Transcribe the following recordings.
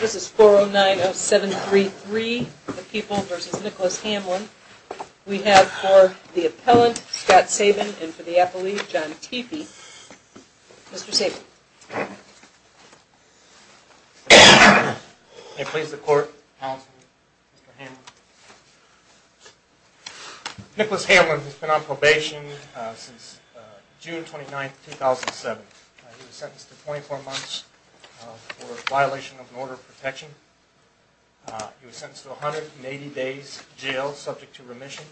This is 4090733, The People v. Nicholas Hamlin. We have for the appellant, Scott Sabin, and for the appellee, John Teepee. Mr. Sabin. May it please the court, counsel, Mr. Hamlin. Nicholas Hamlin has been on probation since June 29, 2007. He was sentenced to 24 months for violation of an order of protection. He was sentenced to 180 days jail, subject to remission.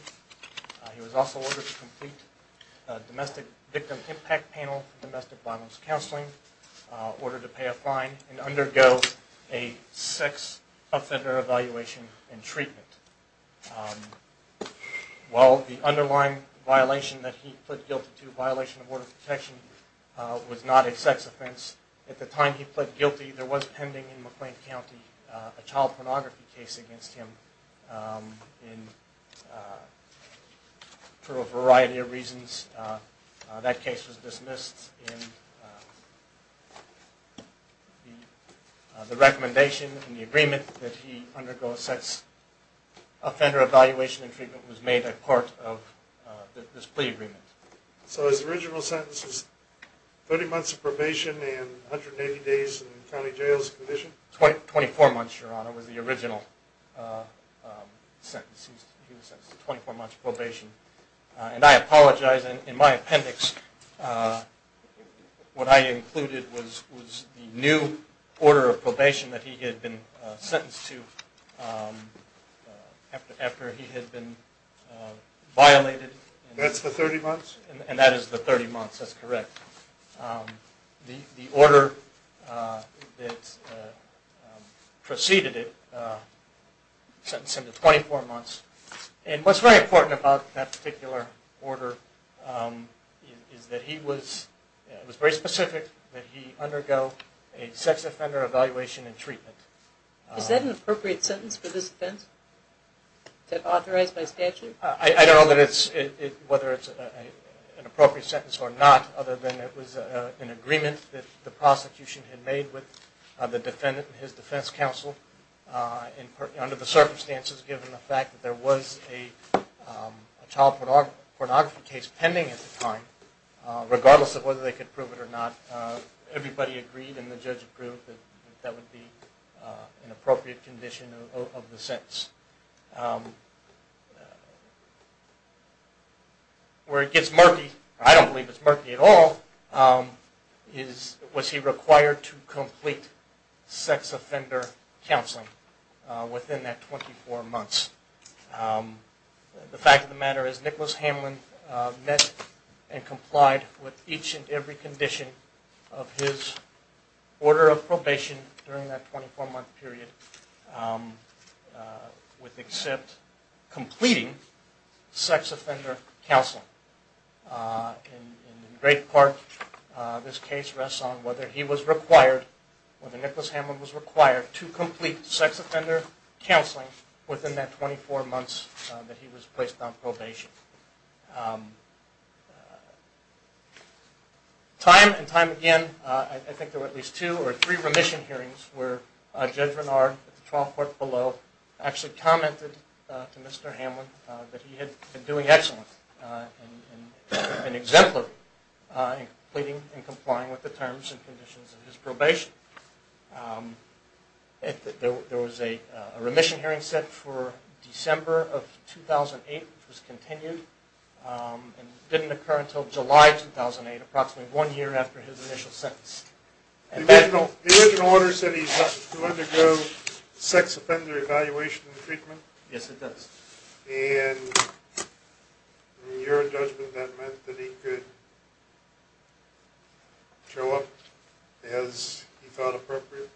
He was also ordered to complete a domestic victim impact panel for domestic violence counseling, ordered to pay a fine, and undergo a sex offender evaluation and treatment. While the underlying violation that he pled guilty to, violation of order of protection, was not a sex offense, at the time he pled guilty, there was pending in McLean County a child pornography case against him for a variety of reasons. That case was dismissed, and the recommendation and the agreement that he undergo a sex offender evaluation and treatment was made at court of this plea agreement. So his original sentence was 30 months of probation and 180 days in county jail as a condition? 24 months, Your Honor, was the original sentence. He was sentenced to 24 months probation. And I apologize, in my appendix, what I included was the new order of probation that he had been sentenced to after he had been violated. That's the 30 months? And that is the 30 months, that's correct. The order that preceded it sentenced him to 24 months. And what's very important about that particular order is that he was very specific that he undergo a sex offender evaluation and treatment. Is that an appropriate sentence for this offense? Is that authorized by statute? I don't know whether it's an appropriate sentence or not, other than it was an agreement that the prosecution had made with the defendant and his defense counsel. Under the circumstances, given the fact that there was a child pornography case pending at the time, regardless of whether they could prove it or not, everybody agreed and the judge approved that that would be an appropriate condition of the sentence. Where it gets murky, I don't believe it's murky at all, was he required to complete sex offender counseling within that 24 months. The fact of the matter is Nicholas Hamlin met and complied with each and every condition of his order of probation during that 24 month period, with except completing sex offender counseling. In great part, this case rests on whether he was required, whether Nicholas Hamlin was required to complete sex offender counseling within that 24 months that he was placed on probation. Time and time again, I think there were at least two or three remission hearings where Judge Renard, at the trial court below, actually commented to Mr. Hamlin that he had been doing excellent and exemplary in completing and complying with the terms and conditions of his probation. There was a remission hearing set for December of 2008, which was continued and didn't occur until July 2008, approximately one year after his initial sentence. The original order said he was to undergo sex offender evaluation and treatment? Yes, it does. And in your judgment, that meant that he could show up as he thought appropriate?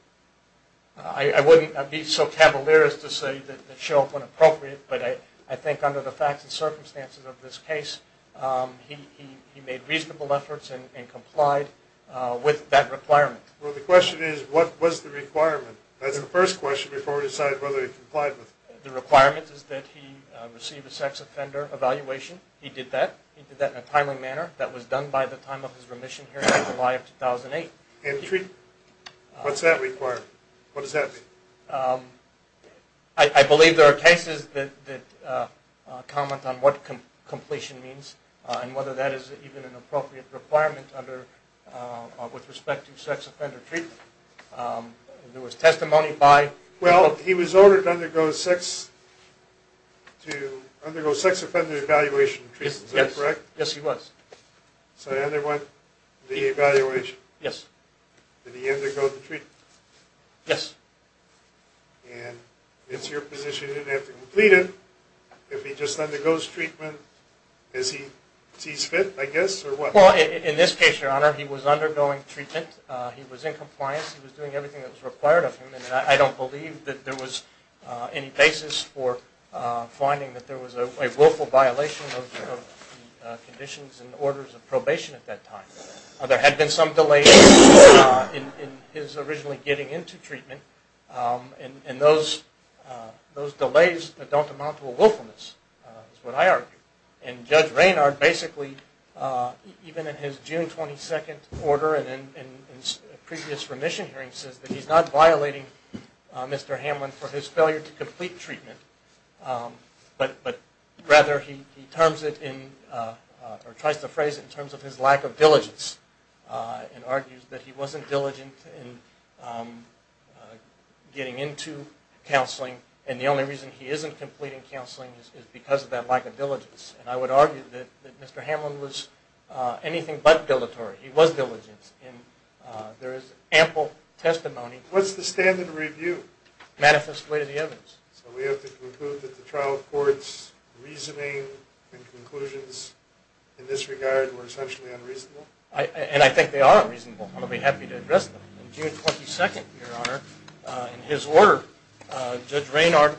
I wouldn't be so cavalier as to say that he could show up when appropriate, but I think under the facts and circumstances of this case, he made reasonable efforts and complied with that requirement. Well, the question is, what was the requirement? That's the first question before we decide whether he complied with it. The requirement is that he receive a sex offender evaluation. He did that. He did that in a timely manner. That was done by the time of his remission hearing in July of 2008. And treatment? What's that requirement? What does that mean? I believe there are cases that comment on what completion means and whether that is even an appropriate requirement with respect to sex offender treatment. There was testimony by… Well, he was ordered to undergo sex offender evaluation and treatment. Is that correct? Yes, he was. So he underwent the evaluation? Yes. Did he undergo the treatment? Yes. And it's your position he didn't have to complete it. If he just undergoes treatment, is he…is he fit, I guess, or what? Well, in this case, Your Honor, he was undergoing treatment. He was in compliance. He was doing everything that was required of him. And I don't believe that there was any basis for finding that there was a willful violation of the conditions and orders of probation at that time. There had been some delays in his originally getting into treatment. And those delays don't amount to a willfulness, is what I argue. And Judge Raynard basically, even in his June 22nd order and in previous remission hearings, says that he's not violating Mr. Hamlin for his failure to complete treatment, but rather he terms it in or tries to phrase it in terms of his lack of diligence and argues that he wasn't diligent in getting into counseling. And the only reason he isn't completing counseling is because of that lack of diligence. And I would argue that Mr. Hamlin was anything but dilatory. He was diligent. And there is ample testimony. What's the standard review? Manifest way to the evidence. So we have to conclude that the trial court's reasoning and conclusions in this regard were essentially unreasonable? And I think they are unreasonable. I'll be happy to address them. On June 22nd, Your Honor, in his order, Judge Raynard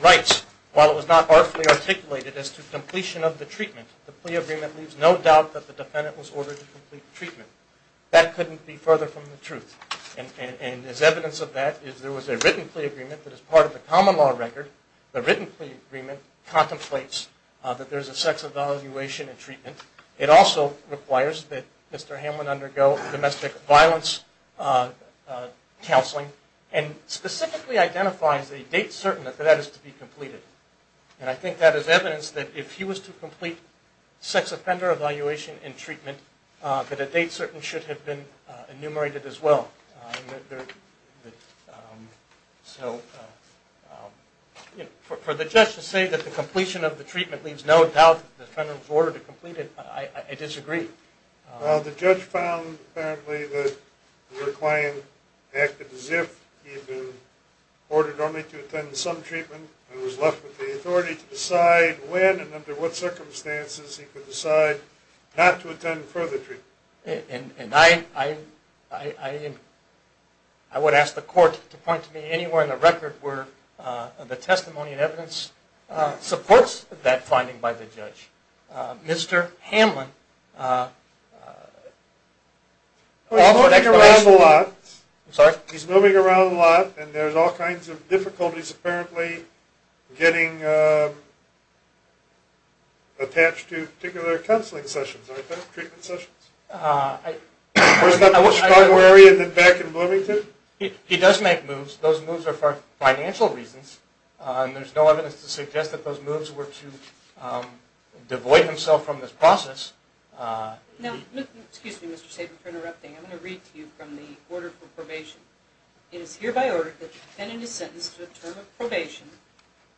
writes, while it was not artfully articulated as to completion of the treatment, the plea agreement leaves no doubt that the defendant was ordered to complete treatment. That couldn't be further from the truth. And as evidence of that is there was a written plea agreement that is part of the common law record. The written plea agreement contemplates that there's a sex evaluation and treatment. It also requires that Mr. Hamlin undergo domestic violence counseling and specifically identifies a date certain that that is to be completed. And I think that is evidence that if he was to complete sex offender evaluation and treatment, that a date certain should have been enumerated as well. So for the judge to say that the completion of the treatment leaves no doubt that the defendant was ordered to complete it, I disagree. Well, the judge found apparently that the client acted as if he had been ordered only to attend some treatment and was left with the authority to decide when and under what circumstances he could decide not to attend further treatment. And I would ask the court to point to me anywhere in the record where the testimony and evidence supports that finding by the judge. Mr. Hamlin... He's moving around a lot. I'm sorry? He does make moves. Those moves are for financial reasons, and there's no evidence to suggest that those moves were to devoid himself from this process. Excuse me, Mr. Sabin, for interrupting. I'm going to read to you from the order for probation. It is hereby ordered that the defendant is sentenced to a term of probation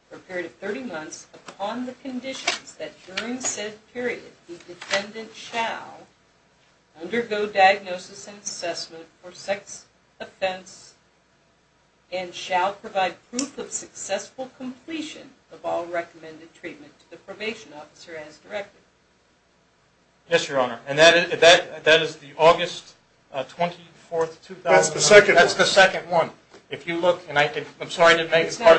for a period of 30 months upon the conditions that during said period the defendant shall undergo diagnosis and assessment for sex offense and shall provide proof of successful completion of all recommended treatment to the probation officer as directed. Yes, Your Honor. And that is the August 24, 2009. That's the second one. That's the second one. If you look, and I'm sorry I didn't make it as part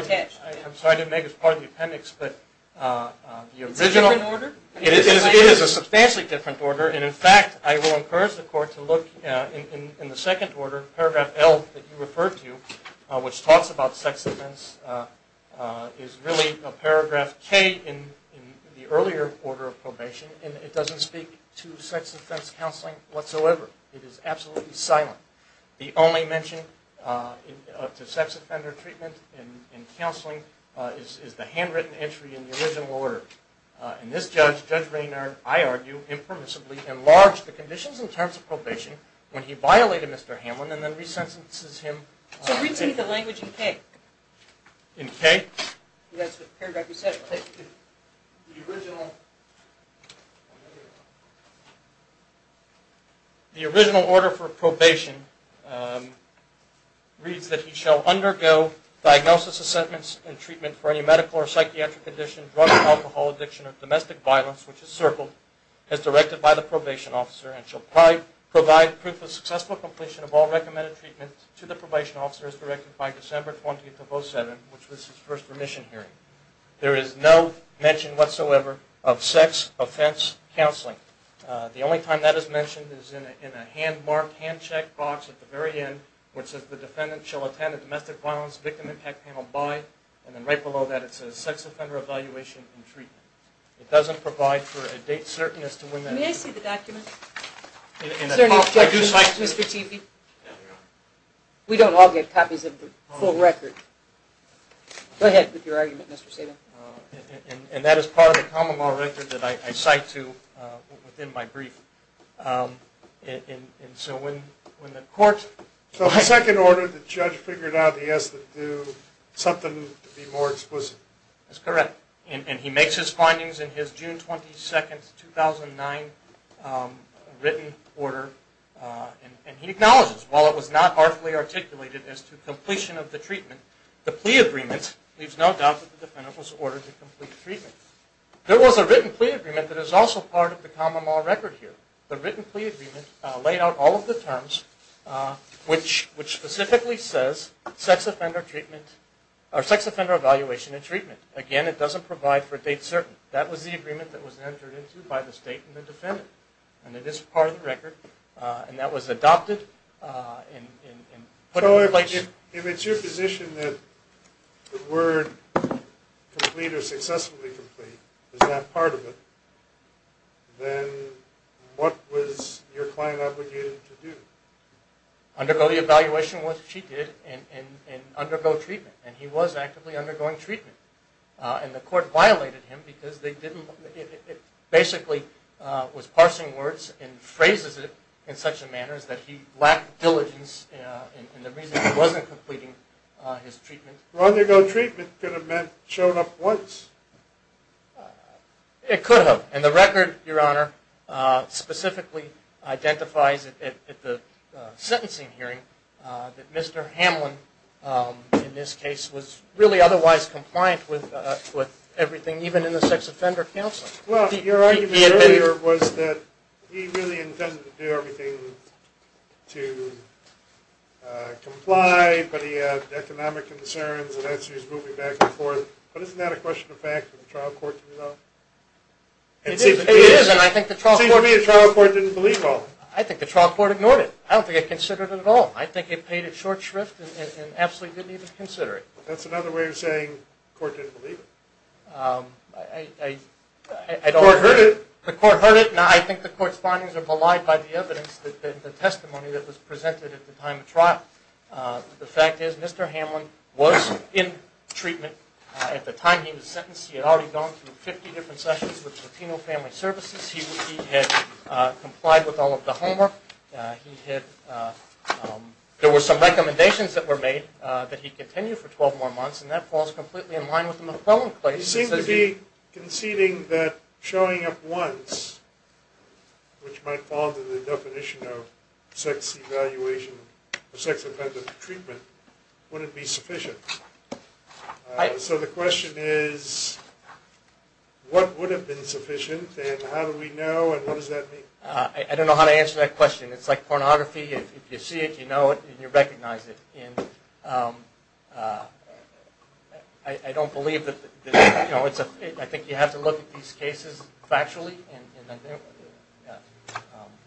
of the appendix, but the original... It's a different order? It is a substantially different order, and in fact I will encourage the Court to look in the second order, paragraph L that you referred to, which talks about sex offense, is really a paragraph K in the earlier order of probation, and it doesn't speak to sex offense counseling whatsoever. It is absolutely silent. The only mention to sex offender treatment in counseling is the handwritten entry in the original order. And this judge, Judge Raynard, I argue, impermissibly enlarged the conditions in terms of probation when he violated Mr. Hamlin and then resentences him. So read to me the language in K. In K? Yes, the paragraph you said. The original... The original order for probation reads that he shall undergo diagnosis, assessments, and treatment for any medical or psychiatric condition, drug or alcohol addiction, or domestic violence, which is circled, as directed by the probation officer, and shall provide proof of successful completion of all recommended treatment to the probation officer as directed by December 20th of 07, which was his first remission hearing. There is no mention whatsoever of sex offense counseling. The only time that is mentioned is in a hand-marked, hand-checked box at the very end, which says the defendant shall attend a domestic violence victim attack panel by, and then right below that it says, sex offender evaluation and treatment. It doesn't provide for a date certain as to when that is. May I see the document? Is there any objection, Mr. Chivvy? No, Your Honor. We don't all get copies of the full record. Go ahead with your argument, Mr. Sabin. And that is part of the common law record that I cite to within my brief. So the second order, the judge figured out he has to do something to be more explicit. That's correct. And he makes his findings in his June 22, 2009 written order, and he acknowledges, while it was not artfully articulated as to completion of the treatment, the plea agreement leaves no doubt that the defendant was ordered to complete treatment. There was a written plea agreement that is also part of the common law record here. The written plea agreement laid out all of the terms, which specifically says sex offender treatment, or sex offender evaluation and treatment. Again, it doesn't provide for a date certain. That was the agreement that was entered into by the state and the defendant, and it is part of the record. And that was adopted. So if it's your position that the word complete or successfully complete is that part of it, then what was your client obligated to do? Undergo the evaluation, which she did, and undergo treatment. And he was actively undergoing treatment. And the court violated him because they didn't, basically was parsing words and phrases it in such a manner that he lacked diligence in the reason he wasn't completing his treatment. Undergo treatment could have meant showing up once. It could have. And the record, Your Honor, specifically identifies at the sentencing hearing that Mr. Hamlin, in this case, was really otherwise compliant with everything, even in the sex offender counseling. Well, your argument earlier was that he really intended to do everything to comply, but he had economic concerns, and as he was moving back and forth. But isn't that a question of fact that the trial court didn't know? It is, and I think the trial court didn't believe all of it. I think the trial court ignored it. I don't think it considered it at all. I think it paid it short shrift and absolutely didn't even consider it. That's another way of saying the court didn't believe it. The court heard it. The court heard it, and I think the court's findings are belied by the evidence and the testimony that was presented at the time of trial. The fact is Mr. Hamlin was in treatment at the time he was sentenced. He had already gone through 50 different sessions with Latino Family Services. He had complied with all of the homework. There were some recommendations that were made that he continue for 12 more months, and that falls completely in line with the McClellan case. You seem to be conceding that showing up once, which might fall under the definition of sex evaluation or sex offender treatment, wouldn't be sufficient. So the question is, what would have been sufficient, and how do we know, and what does that mean? I don't know how to answer that question. It's like pornography. If you see it, you know it, and you recognize it. I don't believe that... I think you have to look at these cases factually.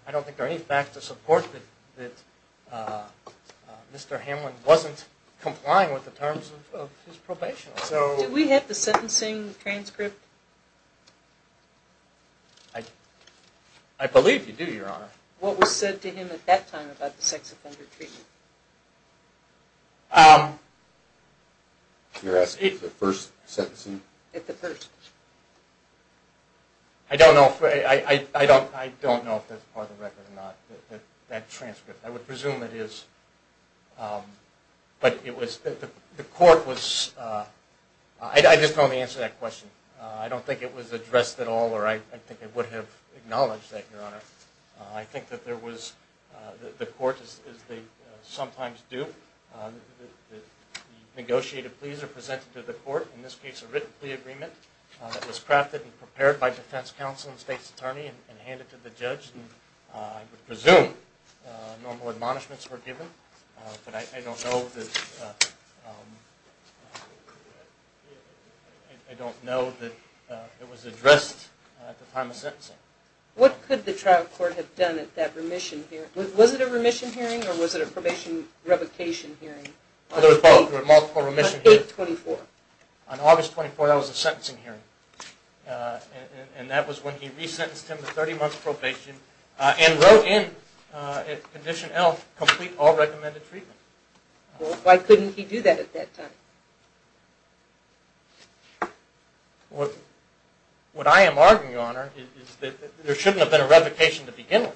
I don't think there are any facts to support that Mr. Hamlin wasn't complying with the terms of his probation. Did we have the sentencing transcript? I believe you do, Your Honor. What was said to him at that time about the sex offender treatment? You're asking at the first sentencing? At the first. I don't know if that's part of the record or not, that transcript. I would presume it is, but the court was... I just don't know the answer to that question. I don't think it was addressed at all, or I think they would have acknowledged that, Your Honor. I think that the court, as they sometimes do, negotiated pleas are presented to the court, in this case a written plea agreement that was crafted and prepared by defense counsel and state's attorney and handed to the judge. I would presume normal admonishments were given, but I don't know that it was addressed at the time of sentencing. What could the trial court have done at that remission hearing? Was it a remission hearing or was it a probation revocation hearing? There were both. There were multiple remission hearings. On 8-24? On August 24, that was a sentencing hearing, and that was when he resentenced him to 30 months probation and wrote in Condition L, Complete All Recommended Treatment. Why couldn't he do that at that time? What I am arguing, Your Honor, is that there shouldn't have been a revocation to begin with.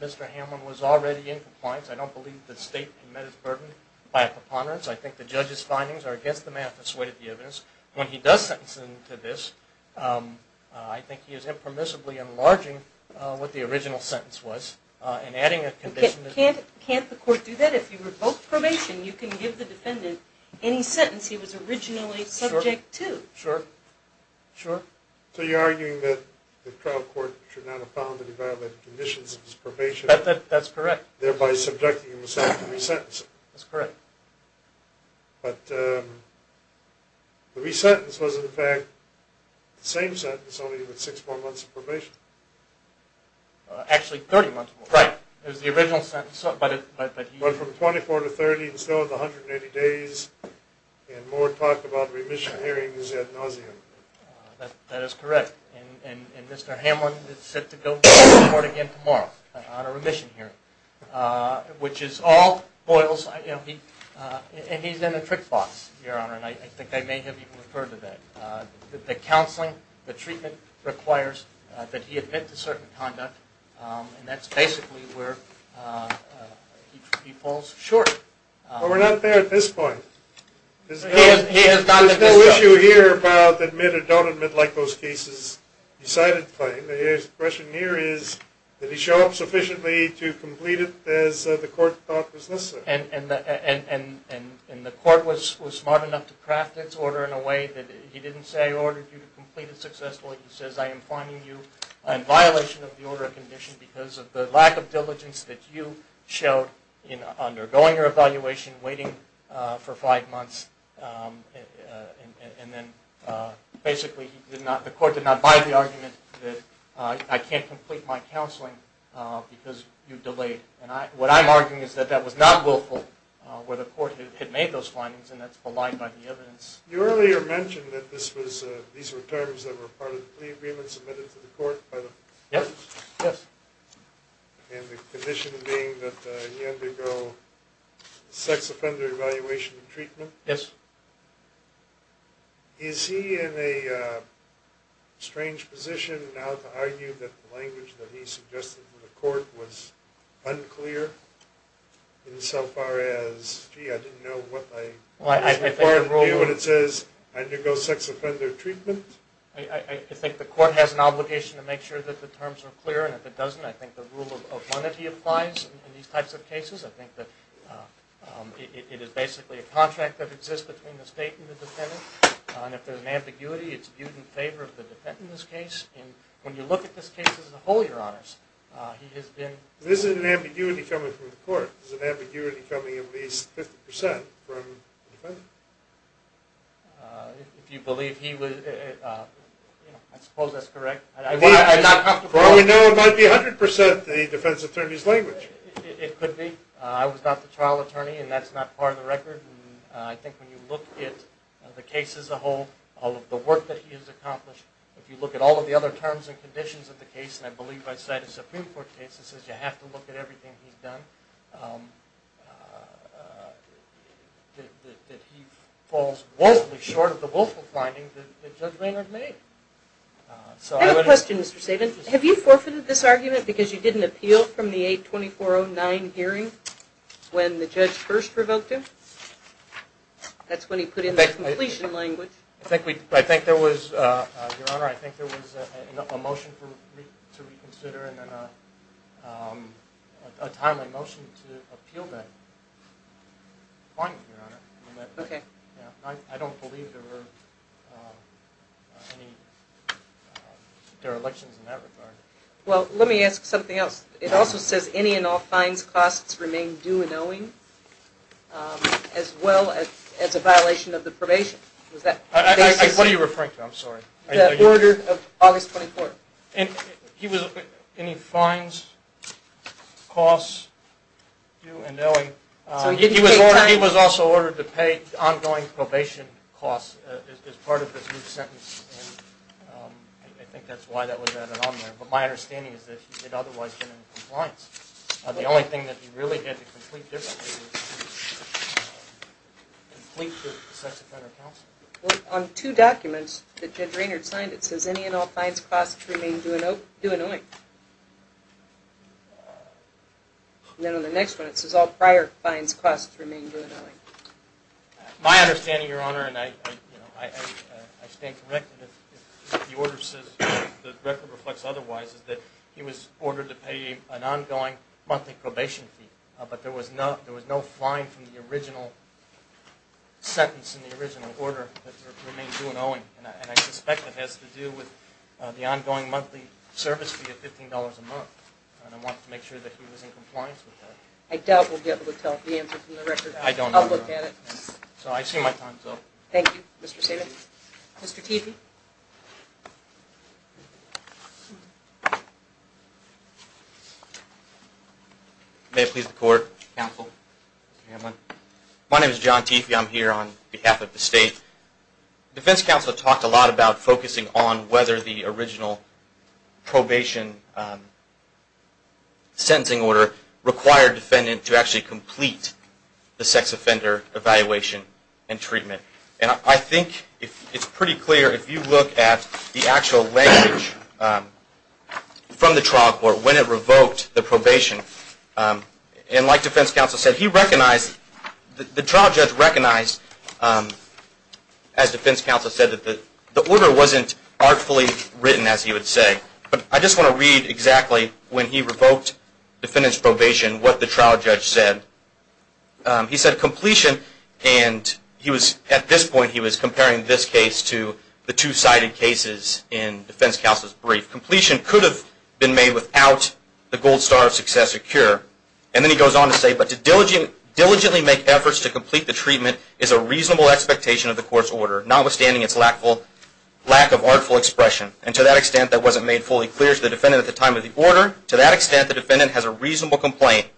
Mr. Hamlin was already in compliance. I don't believe the state committed the burden by a preponderance. I think the judge's findings are against the math that's weighted the evidence. When he does sentence him to this, I think he is impermissibly enlarging what the original sentence was and adding a condition to it. Can't the court do that? If you revoke probation, you can give the defendant any sentence he was originally subject to. Sure. Sure. So you're arguing that the trial court should not have found that he violated the conditions of his probation? That's correct. Thereby subjecting himself to resentencing. That's correct. But the resentence was, in fact, the same sentence, only with six more months of probation. Actually, 30 months more. Right. It was the original sentence. But from 24 to 30, and still with 180 days, and more talk about remission hearings ad nauseum. That is correct. And Mr. Hamlin is set to go to court again tomorrow on a remission hearing, which is all boils. And he's in a trick box, Your Honor, and I think I may have even referred to that. The counseling, the treatment requires that he admit to certain conduct, and that's basically where he falls short. Well, we're not there at this point. There's no issue here about admit or don't admit like those cases decided claim. The question here is, did he show up sufficiently to complete it as the court thought was necessary? And the court was smart enough to craft its order in a way that he didn't say, I ordered you to complete it successfully. He says, I am finding you in violation of the order of condition because of the lack of diligence that you showed in undergoing your evaluation, waiting for five months. And then basically he did not, the court did not buy the argument that I can't complete my counseling because you've delayed. And what I'm arguing is that that was not willful where the court had made those findings, and that's belied by the evidence. You earlier mentioned that this was, these were terms that were part of the plea agreement submitted to the court by the parties? Yes. And the condition being that he undergo sex offender evaluation and treatment? Yes. Is he in a strange position now to argue that the language that he suggested to the court was unclear in so far as, gee, I didn't know what I was required to do, what it says, undergo sex offender treatment? I think the court has an obligation to make sure that the terms are clear, and if it doesn't, I think the rule of one of the applies in these types of cases. I think that it is basically a contract that exists between the state and the defendant, and if there's an ambiguity, it's viewed in favor of the defendant in this case. And when you look at this case as a whole, your honors, he has been. This isn't an ambiguity coming from the court. This is an ambiguity coming at least 50% from the defendant. If you believe he was, I suppose that's correct. I'm not comfortable. Well, we know it might be 100% the defense attorney's language. It could be. I was not the trial attorney, and that's not part of the record. I think when you look at the case as a whole, all of the work that he has accomplished, if you look at all of the other terms and conditions of the case, and I believe I cite a Supreme Court case that says you have to look at everything he's done, that he falls woefully short of the woeful finding that Judge Maynard made. I have a question, Mr. Sabin. Have you forfeited this argument because you didn't appeal from the 8-2409 hearing when the judge first revoked him? That's when he put in that completion language. I think there was a motion for me to reconsider and then a timely motion to appeal that finding, your honor. Okay. I don't believe there were elections in that regard. Well, let me ask something else. It also says any and all fines, costs remain due and owing, as well as a violation of the probation. What are you referring to? I'm sorry. The order of August 24th. Any fines, costs, due and owing. He was also ordered to pay ongoing probation costs as part of his new sentence, and I think that's why that was added on there. But my understanding is that he did otherwise get in compliance. The only thing that he really had to complete differently was complete the sex offender counsel. Well, on two documents that Judge Maynard signed, it says any and all fines, costs remain due and owing. And then on the next one, it says all prior fines, costs remain due and owing. My understanding, your honor, and I stand corrected if the order says, the record reflects otherwise, is that he was ordered to pay an ongoing monthly probation fee, but there was no fine from the original sentence in the original order that remained due and owing, and I suspect it has to do with the ongoing monthly service fee and I want to make sure that he was in compliance with that. I doubt we'll be able to tell the answer from the record. I don't know. I'll look at it. So I assume my time is up. Thank you, Mr. Sabin. Mr. Teefy. May it please the court, counsel, Mr. Hamlin. My name is John Teefy. I'm here on behalf of the state. Defense counsel talked a lot about focusing on whether the original probation sentencing order required defendant to actually complete the sex offender evaluation and treatment. And I think it's pretty clear if you look at the actual language from the trial court when it revoked the probation, and like defense counsel said, he recognized, the trial judge recognized, as defense counsel said, that the order wasn't artfully written, as he would say. But I just want to read exactly when he revoked defendant's probation, what the trial judge said. He said completion, and he was, at this point, he was comparing this case to the two-sided cases in defense counsel's brief. Completion could have been made without the gold star of success or cure. And then he goes on to say, but to diligently make efforts to complete the treatment is a reasonable expectation of the court's order, notwithstanding its lack of artful expression. And to that extent, that wasn't made fully clear to the defendant at the time of the order. To that extent, the defendant has a reasonable complaint.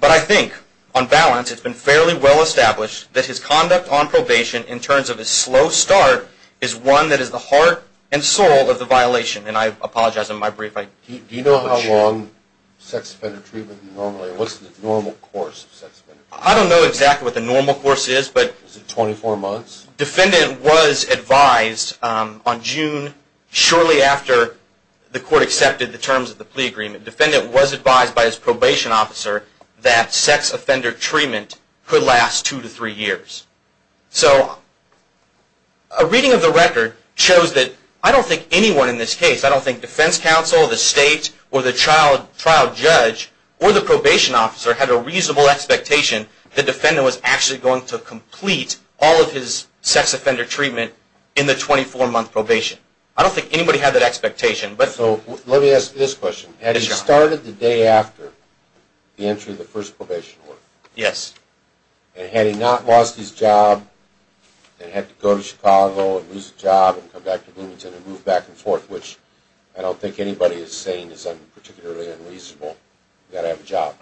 But I think, on balance, it's been fairly well established that his conduct on probation in terms of his slow start is one that is the heart and soul of the violation. And I apologize on my brief. Do you know how long sex offender treatment normally, what's the normal course of sex offender treatment? I don't know exactly what the normal course is. Is it 24 months? Defendant was advised on June, shortly after the court accepted the terms of the plea agreement, defendant was advised by his probation officer that sex offender treatment could last two to three years. So a reading of the record shows that I don't think anyone in this case, I don't think defense counsel, the state, or the trial judge, or the probation officer had a reasonable expectation the defendant was actually going to complete all of his sex offender treatment in the 24-month probation. I don't think anybody had that expectation. So let me ask this question. Had he started the day after the entry of the first probation order? Yes. And had he not lost his job and had to go to Chicago and lose his job and come back to Bloomington and move back and forth, which I don't think anybody is saying is particularly unreasonable. You've got to have a job.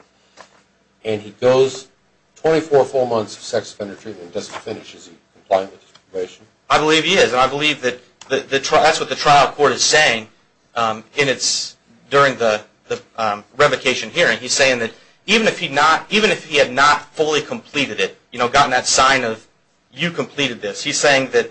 And he goes 24 full months of sex offender treatment and doesn't finish, is he compliant with the probation? I believe he is. And I believe that's what the trial court is saying during the revocation hearing. He's saying that even if he had not fully completed it, gotten that sign of you completed this, he's saying that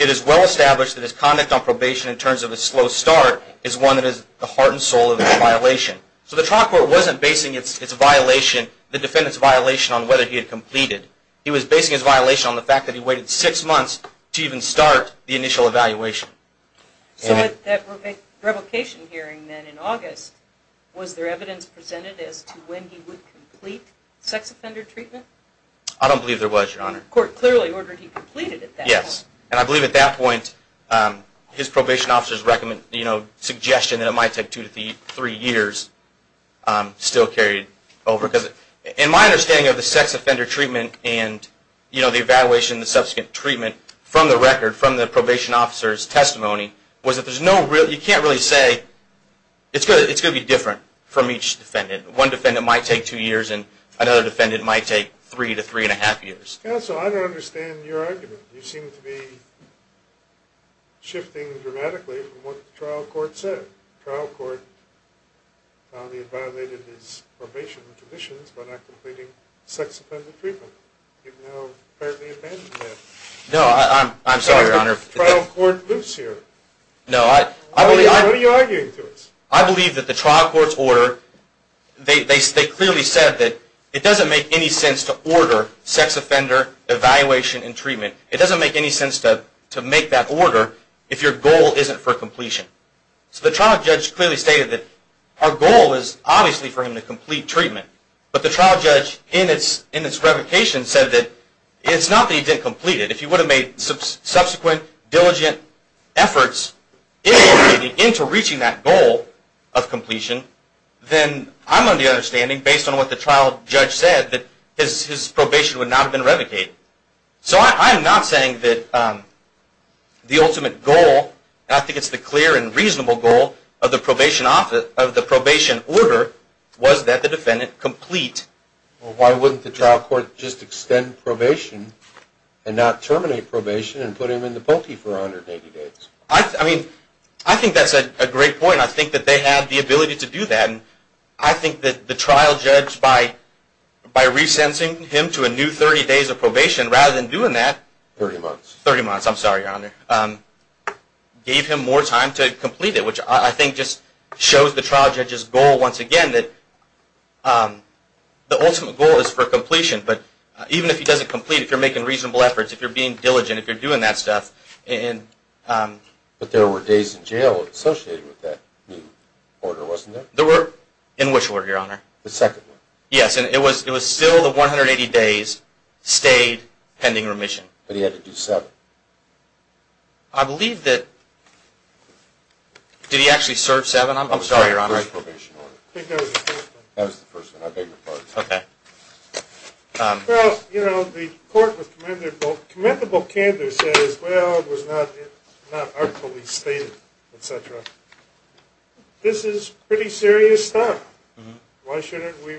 it is well established that his conduct on probation in terms of a slow start is one that is the heart and soul of the violation. So the trial court wasn't basing its violation, the defendant's violation on whether he had completed. He was basing his violation on the fact that he waited six months to even start the initial evaluation. So with that revocation hearing then in August, was there evidence presented as to when he would complete sex offender treatment? I don't believe there was, Your Honor. The court clearly ordered he completed at that point. Yes. And I believe at that point his probation officer's suggestion that it might take two to three years still carried over. Because in my understanding of the sex offender treatment and the evaluation and the subsequent treatment from the record, from the probation officer's testimony, was that you can't really say it's going to be different from each defendant. One defendant might take two years and another defendant might take three to three and a half years. Counsel, I don't understand your argument. You seem to be shifting dramatically from what the trial court said. The trial court found he had violated his probation conditions by not completing sex offender treatment. You've now apparently abandoned that. No, I'm sorry, Your Honor. The trial court loops here. No, I believe that the trial court's order, they clearly said that it doesn't make any sense to order sex offender evaluation and treatment. It doesn't make any sense to make that order if your goal isn't for completion. So the trial judge clearly stated that our goal is obviously for him to complete treatment. But the trial judge, in its revocation, said that it's not that he didn't complete it. If he would have made subsequent, diligent efforts into reaching that goal of completion, then I'm of the understanding, based on what the trial judge said, that his probation would not have been revocated. So I'm not saying that the ultimate goal, and I think it's the clear and reasonable goal of the probation order, was that the defendant complete. Well, why wouldn't the trial court just extend probation and not terminate probation and put him in the pulpy for 180 days? I mean, I think that's a great point. I think that they have the ability to do that. And I think that the trial judge, by resensing him to a new 30 days of probation, rather than doing that. 30 months. 30 months. I'm sorry, Your Honor. Gave him more time to complete it, which I think just shows the trial judge's goal, once again, that the ultimate goal is for completion. But even if he doesn't complete, if you're making reasonable efforts, if you're being diligent, if you're doing that stuff. But there were days in jail associated with that new order, wasn't there? There were. In which order, Your Honor? The second one. Yes. And it was still the 180 days stayed pending remission. But he had to do seven. I believe that – did he actually serve seven? I'm sorry, Your Honor. That was the first probation order. I think that was the first one. That was the first one. I beg your pardon. Okay. Well, you know, the court was commendable. Commendable candor says, well, it was not artfully stated, et cetera. This is pretty serious stuff. Why shouldn't we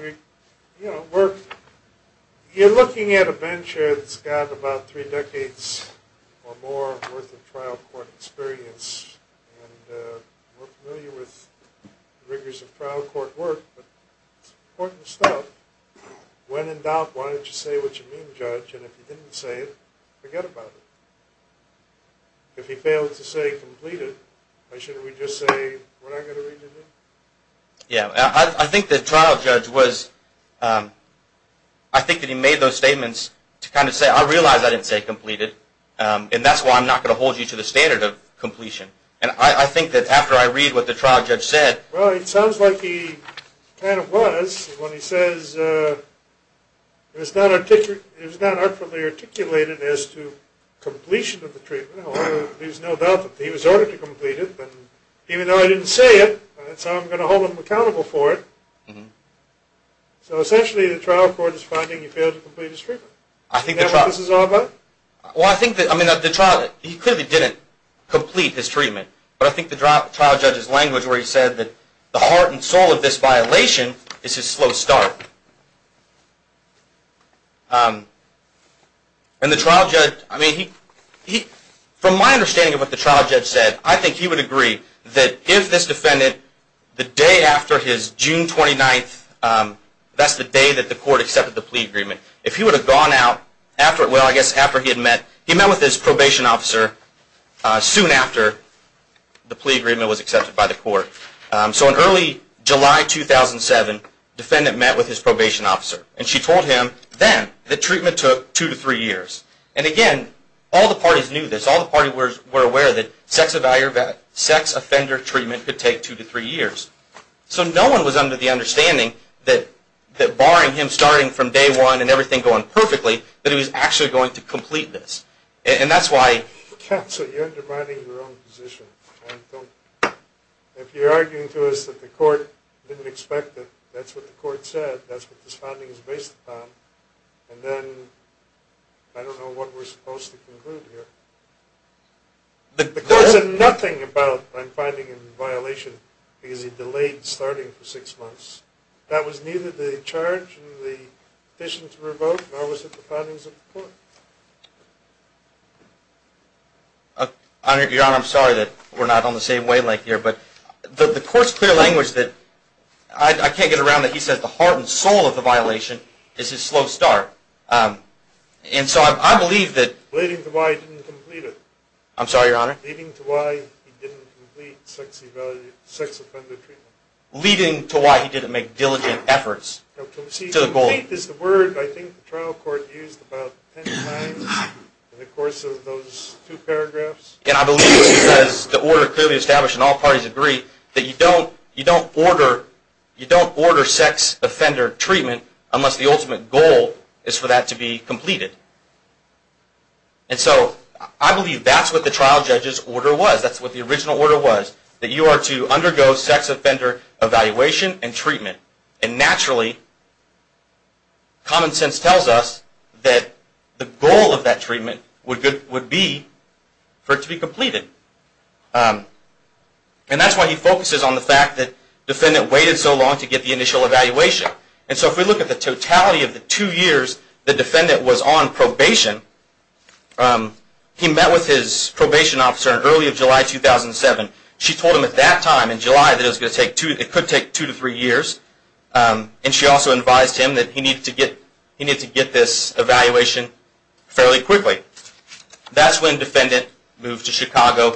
work? You're looking at a bench that's got about three decades or more worth of trial court experience. And we're familiar with the rigors of trial court work, but it's important stuff. When in doubt, why don't you say what you mean, Judge, and if you didn't say it, forget about it. If he failed to say he completed, why shouldn't we just say, what I've got to read you do? Yeah, I think the trial judge was – I think that he made those statements to kind of say, I realize I didn't say completed, and that's why I'm not going to hold you to the standard of completion. And I think that after I read what the trial judge said – Well, it sounds like he kind of was when he says, it was not artfully articulated as to completion of the treatment. There's no doubt that he was ordered to complete it. And even though I didn't say it, that's how I'm going to hold him accountable for it. So essentially, the trial court is finding he failed to complete his treatment. Is that what this is all about? Well, I think that – I mean, the trial – he clearly didn't complete his treatment. But I think the trial judge's language where he said that the heart and soul of this violation is his slow start. And the trial judge – I mean, he – from my understanding of what the trial judge said, I think he would agree that if this defendant, the day after his June 29th – that's the day that the court accepted the plea agreement – if he would have gone out after – well, I guess after he had met – he met with his probation officer soon after the plea agreement was accepted by the court. So in early July 2007, the defendant met with his probation officer. And she told him then that treatment took two to three years. And again, all the parties knew this. All the parties were aware that sex offender treatment could take two to three years. So no one was under the understanding that, barring him starting from day one and everything going perfectly, that he was actually going to complete this. And that's why – So you're undermining your own position. If you're arguing to us that the court didn't expect it, that's what the court said. That's what this finding is based upon. And then, I don't know what we're supposed to conclude here. The court said nothing about my finding in violation because he delayed starting for six months. That was neither the charge nor the petition to revoke, nor was it the findings of the court. Your Honor, I'm sorry that we're not on the same wavelength here, but the court's clear language that – I can't get around it. He says the heart and soul of the violation is his slow start. And so I believe that – Leading to why he didn't complete it. I'm sorry, Your Honor? Leading to why he didn't complete sex offender treatment. Leading to why he didn't make diligent efforts to the goal. Complete is the word I think the trial court used about ten times in the course of those two paragraphs. And I believe he says the order clearly established, and all parties agree, that you don't order sex offender treatment unless the ultimate goal is for that to be completed. And so I believe that's what the trial judge's order was. That's what the original order was, that you are to undergo sex offender evaluation and treatment. And naturally, common sense tells us that the goal of that treatment would be for it to be completed. And that's why he focuses on the fact that defendant waited so long to get the initial evaluation. And so if we look at the totality of the two years the defendant was on probation, he met with his probation officer in early of July 2007. She told him at that time in July that it could take two to three years. And she also advised him that he needed to get this evaluation fairly quickly. That's when defendant moved to Chicago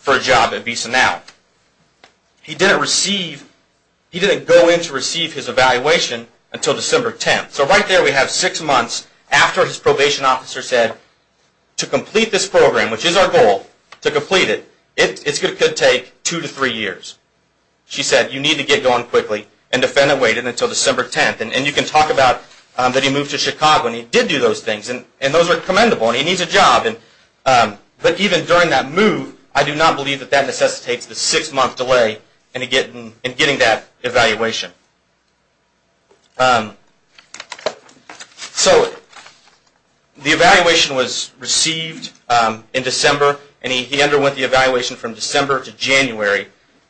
for a job at Visa Now. He didn't go in to receive his evaluation until December 10th. So right there we have six months after his probation officer said to complete this program, which is our goal, to complete it, it could take two to three years. She said you need to get going quickly, and defendant waited until December 10th. And you can talk about that he moved to Chicago, and he did do those things, and those are commendable, and he needs a job. But even during that move, I do not believe that that necessitates the six-month delay in getting that evaluation. So the evaluation was received in December, and he underwent the evaluation from December to January.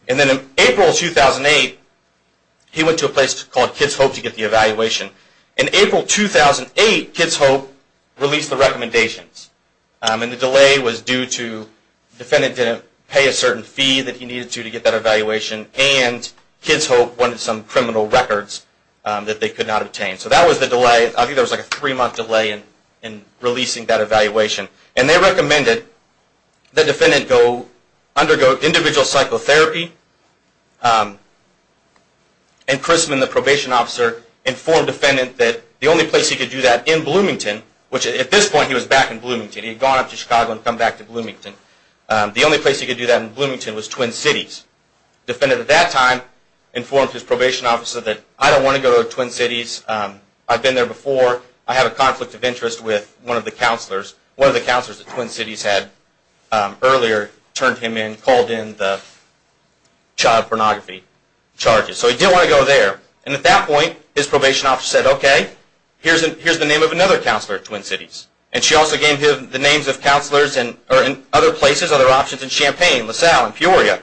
And then in April 2008 he went to a place called Kids Hope to get the evaluation. In April 2008, Kids Hope released the recommendations. And the delay was due to the defendant didn't pay a certain fee that he needed to to get that evaluation, and Kids Hope wanted some criminal records that they could not obtain. So that was the delay. I think there was like a three-month delay in releasing that evaluation. And they recommended that defendant undergo individual psychotherapy, and Chrisman, the probation officer, informed the defendant that the only place he could do that in Bloomington, which at this point he was back in Bloomington. He had gone up to Chicago and come back to Bloomington. The only place he could do that in Bloomington was Twin Cities. The defendant at that time informed his probation officer that I don't want to go to Twin Cities. I've been there before. I have a conflict of interest with one of the counselors. One of the counselors at Twin Cities had earlier turned him in, and called in the child pornography charges. So he didn't want to go there. And at that point, his probation officer said, okay, here's the name of another counselor at Twin Cities. And she also gave him the names of counselors in other places, other options, in Champaign, LaSalle, and Peoria.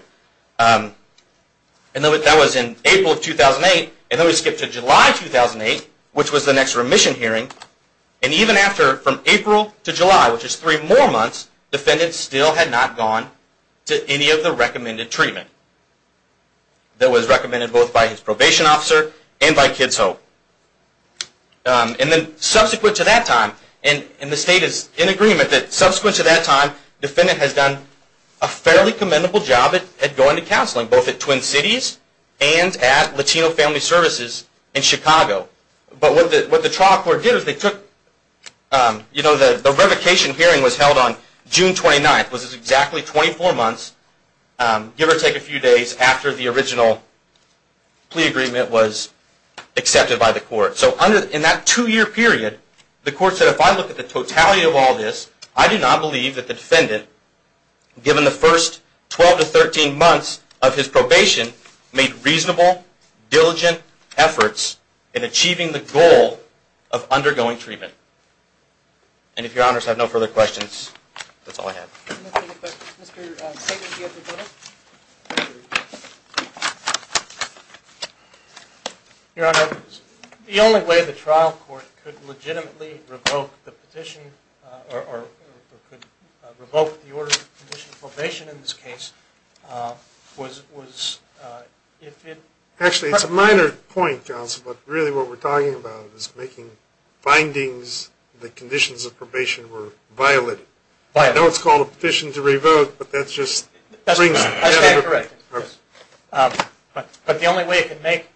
And that was in April of 2008. And then we skipped to July of 2008, which was the next remission hearing. And even after, from April to July, which is three more months, the defendant still had not gone to any of the recommended treatment that was recommended both by his probation officer and by Kids Hope. And then subsequent to that time, and the state is in agreement that subsequent to that time, the defendant has done a fairly commendable job at going to counseling, both at Twin Cities and at Latino Family Services in Chicago. But what the trial court did was they took, you know, the revocation hearing was held on June 29th, which is exactly 24 months, give or take a few days after the original plea agreement was accepted by the court. So in that two-year period, the court said, if I look at the totality of all this, I do not believe that the defendant, given the first 12 to 13 months of his probation, made reasonable, diligent efforts in achieving the goal of undergoing treatment. And if your honors have no further questions, that's all I have. Any questions? Mr. Tatum, do you have a question? Your honor, the only way the trial court could legitimately revoke the petition, or could revoke the order of petition of probation in this case, was if it... Actually, it's a minor point, Johnson, but really what we're talking about is making findings that conditions of probation were violated. I know it's called a petition to revoke, but that's just... I stand corrected. But the only way it can make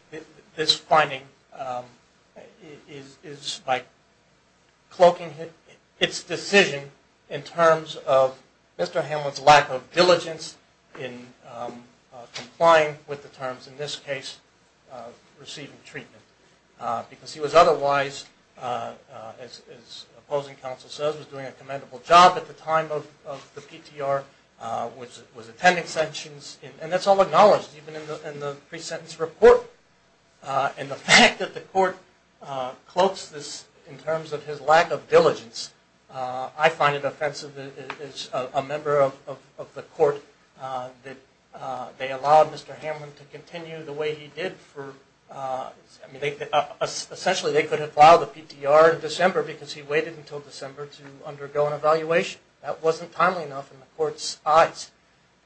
this finding is by cloaking its decision in terms of Mr. Hamlin's lack of diligence in complying with the terms, in this case, of receiving treatment. Because he was otherwise, as opposing counsel says, was doing a commendable job at the time of the PTR, was attending sessions, and that's all acknowledged, even in the pre-sentence report. And the fact that the court cloaks this in terms of his lack of diligence, I find it offensive as a member of the court that they allowed Mr. Hamlin to continue the way he did for... Essentially, they could have filed the PTR in December because he waited until December to undergo an evaluation. That wasn't timely enough in the court's eyes.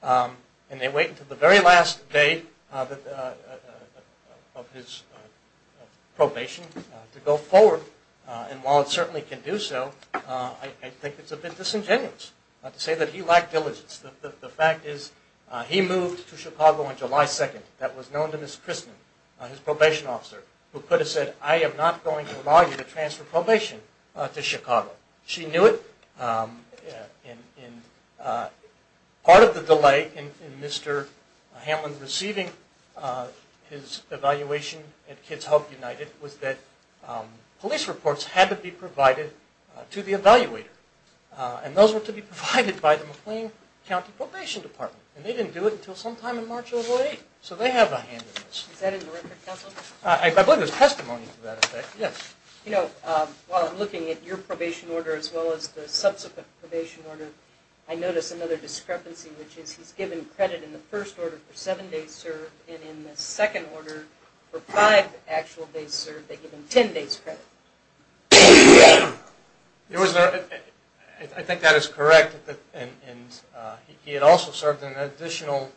And they wait until the very last day of his probation to go forward. And while it certainly can do so, I think it's a bit disingenuous to say that he lacked diligence. The fact is he moved to Chicago on July 2nd. That was known to Ms. Christman, his probation officer, who could have said, I am not going to allow you to transfer probation to Chicago. She knew it. Part of the delay in Mr. Hamlin receiving his evaluation at Kids Help United was that police reports had to be provided to the evaluator. And those were to be provided by the McLean County Probation Department. And they didn't do it until sometime in March of 2008. So they have a hand in this. Is that in the record, counsel? I believe there's testimony to that effect. Yes. While I'm looking at your probation order as well as the subsequent probation order, I notice another discrepancy, which is he's given credit in the first order for 7 days served, and in the second order for 5 actual days served, they give him 10 days credit. I think that is correct. And he had also served an additional,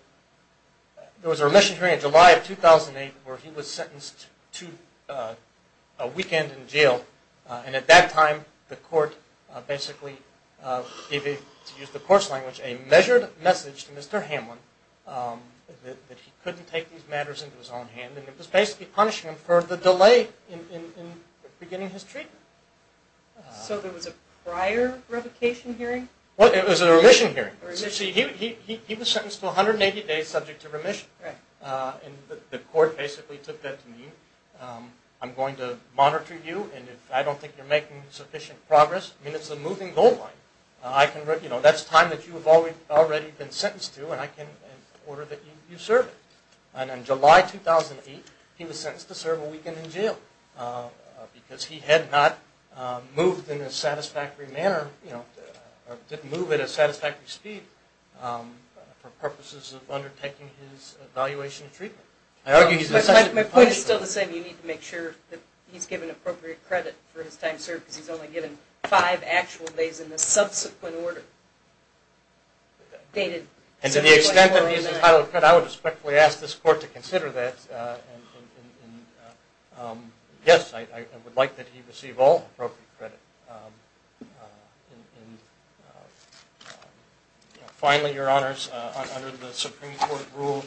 there was a remission period in July of 2008 where he was sentenced to a weekend in jail. And at that time the court basically gave him, to use the court's language, a measured message to Mr. Hamlin that he couldn't take these matters into his own hand. And it was basically punishing him for the delay in beginning his treatment. So there was a prior revocation hearing? It was a remission hearing. He was sentenced to 180 days subject to remission. And the court basically took that to mean, I'm going to monitor you, and if I don't think you're making sufficient progress, I mean it's a moving goal line. That's time that you've already been sentenced to, and I can order that you serve it. And in July 2008, he was sentenced to serve a weekend in jail because he had not moved in a satisfactory manner, or didn't move at a satisfactory speed for purposes of undertaking his evaluation and treatment. My point is still the same. You need to make sure that he's given appropriate credit for his time served because he's only given 5 actual days in the subsequent order. And to the extent that he's entitled to credit, I would respectfully ask this court to consider that. Yes, I would like that he receive all appropriate credit. Finally, Your Honors, under the Supreme Court rule,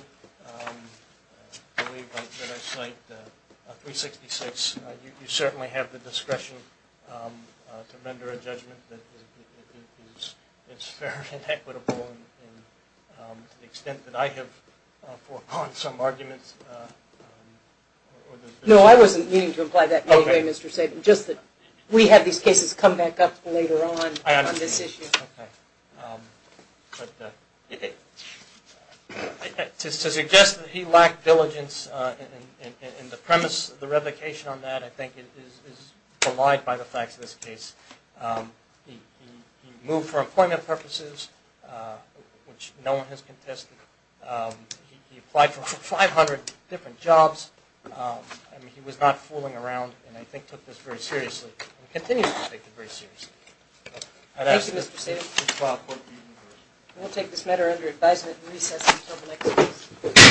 I believe that I cite 366, you certainly have the discretion to render a judgment that is fair and equitable to the extent that I have foregone some arguments. No, I wasn't meaning to imply that, by the way, Mr. Sabin, just that we have these cases come back up later on on this issue. To suggest that he lacked diligence in the premise of the revocation on that, I think is belied by the facts of this case. He moved for employment purposes, which no one has contested. He applied for 500 different jobs. He was not fooling around and I think took this very seriously and continues to take this very seriously. Thank you, Mr. Sabin. We'll take this matter under advisement and recess until the next case.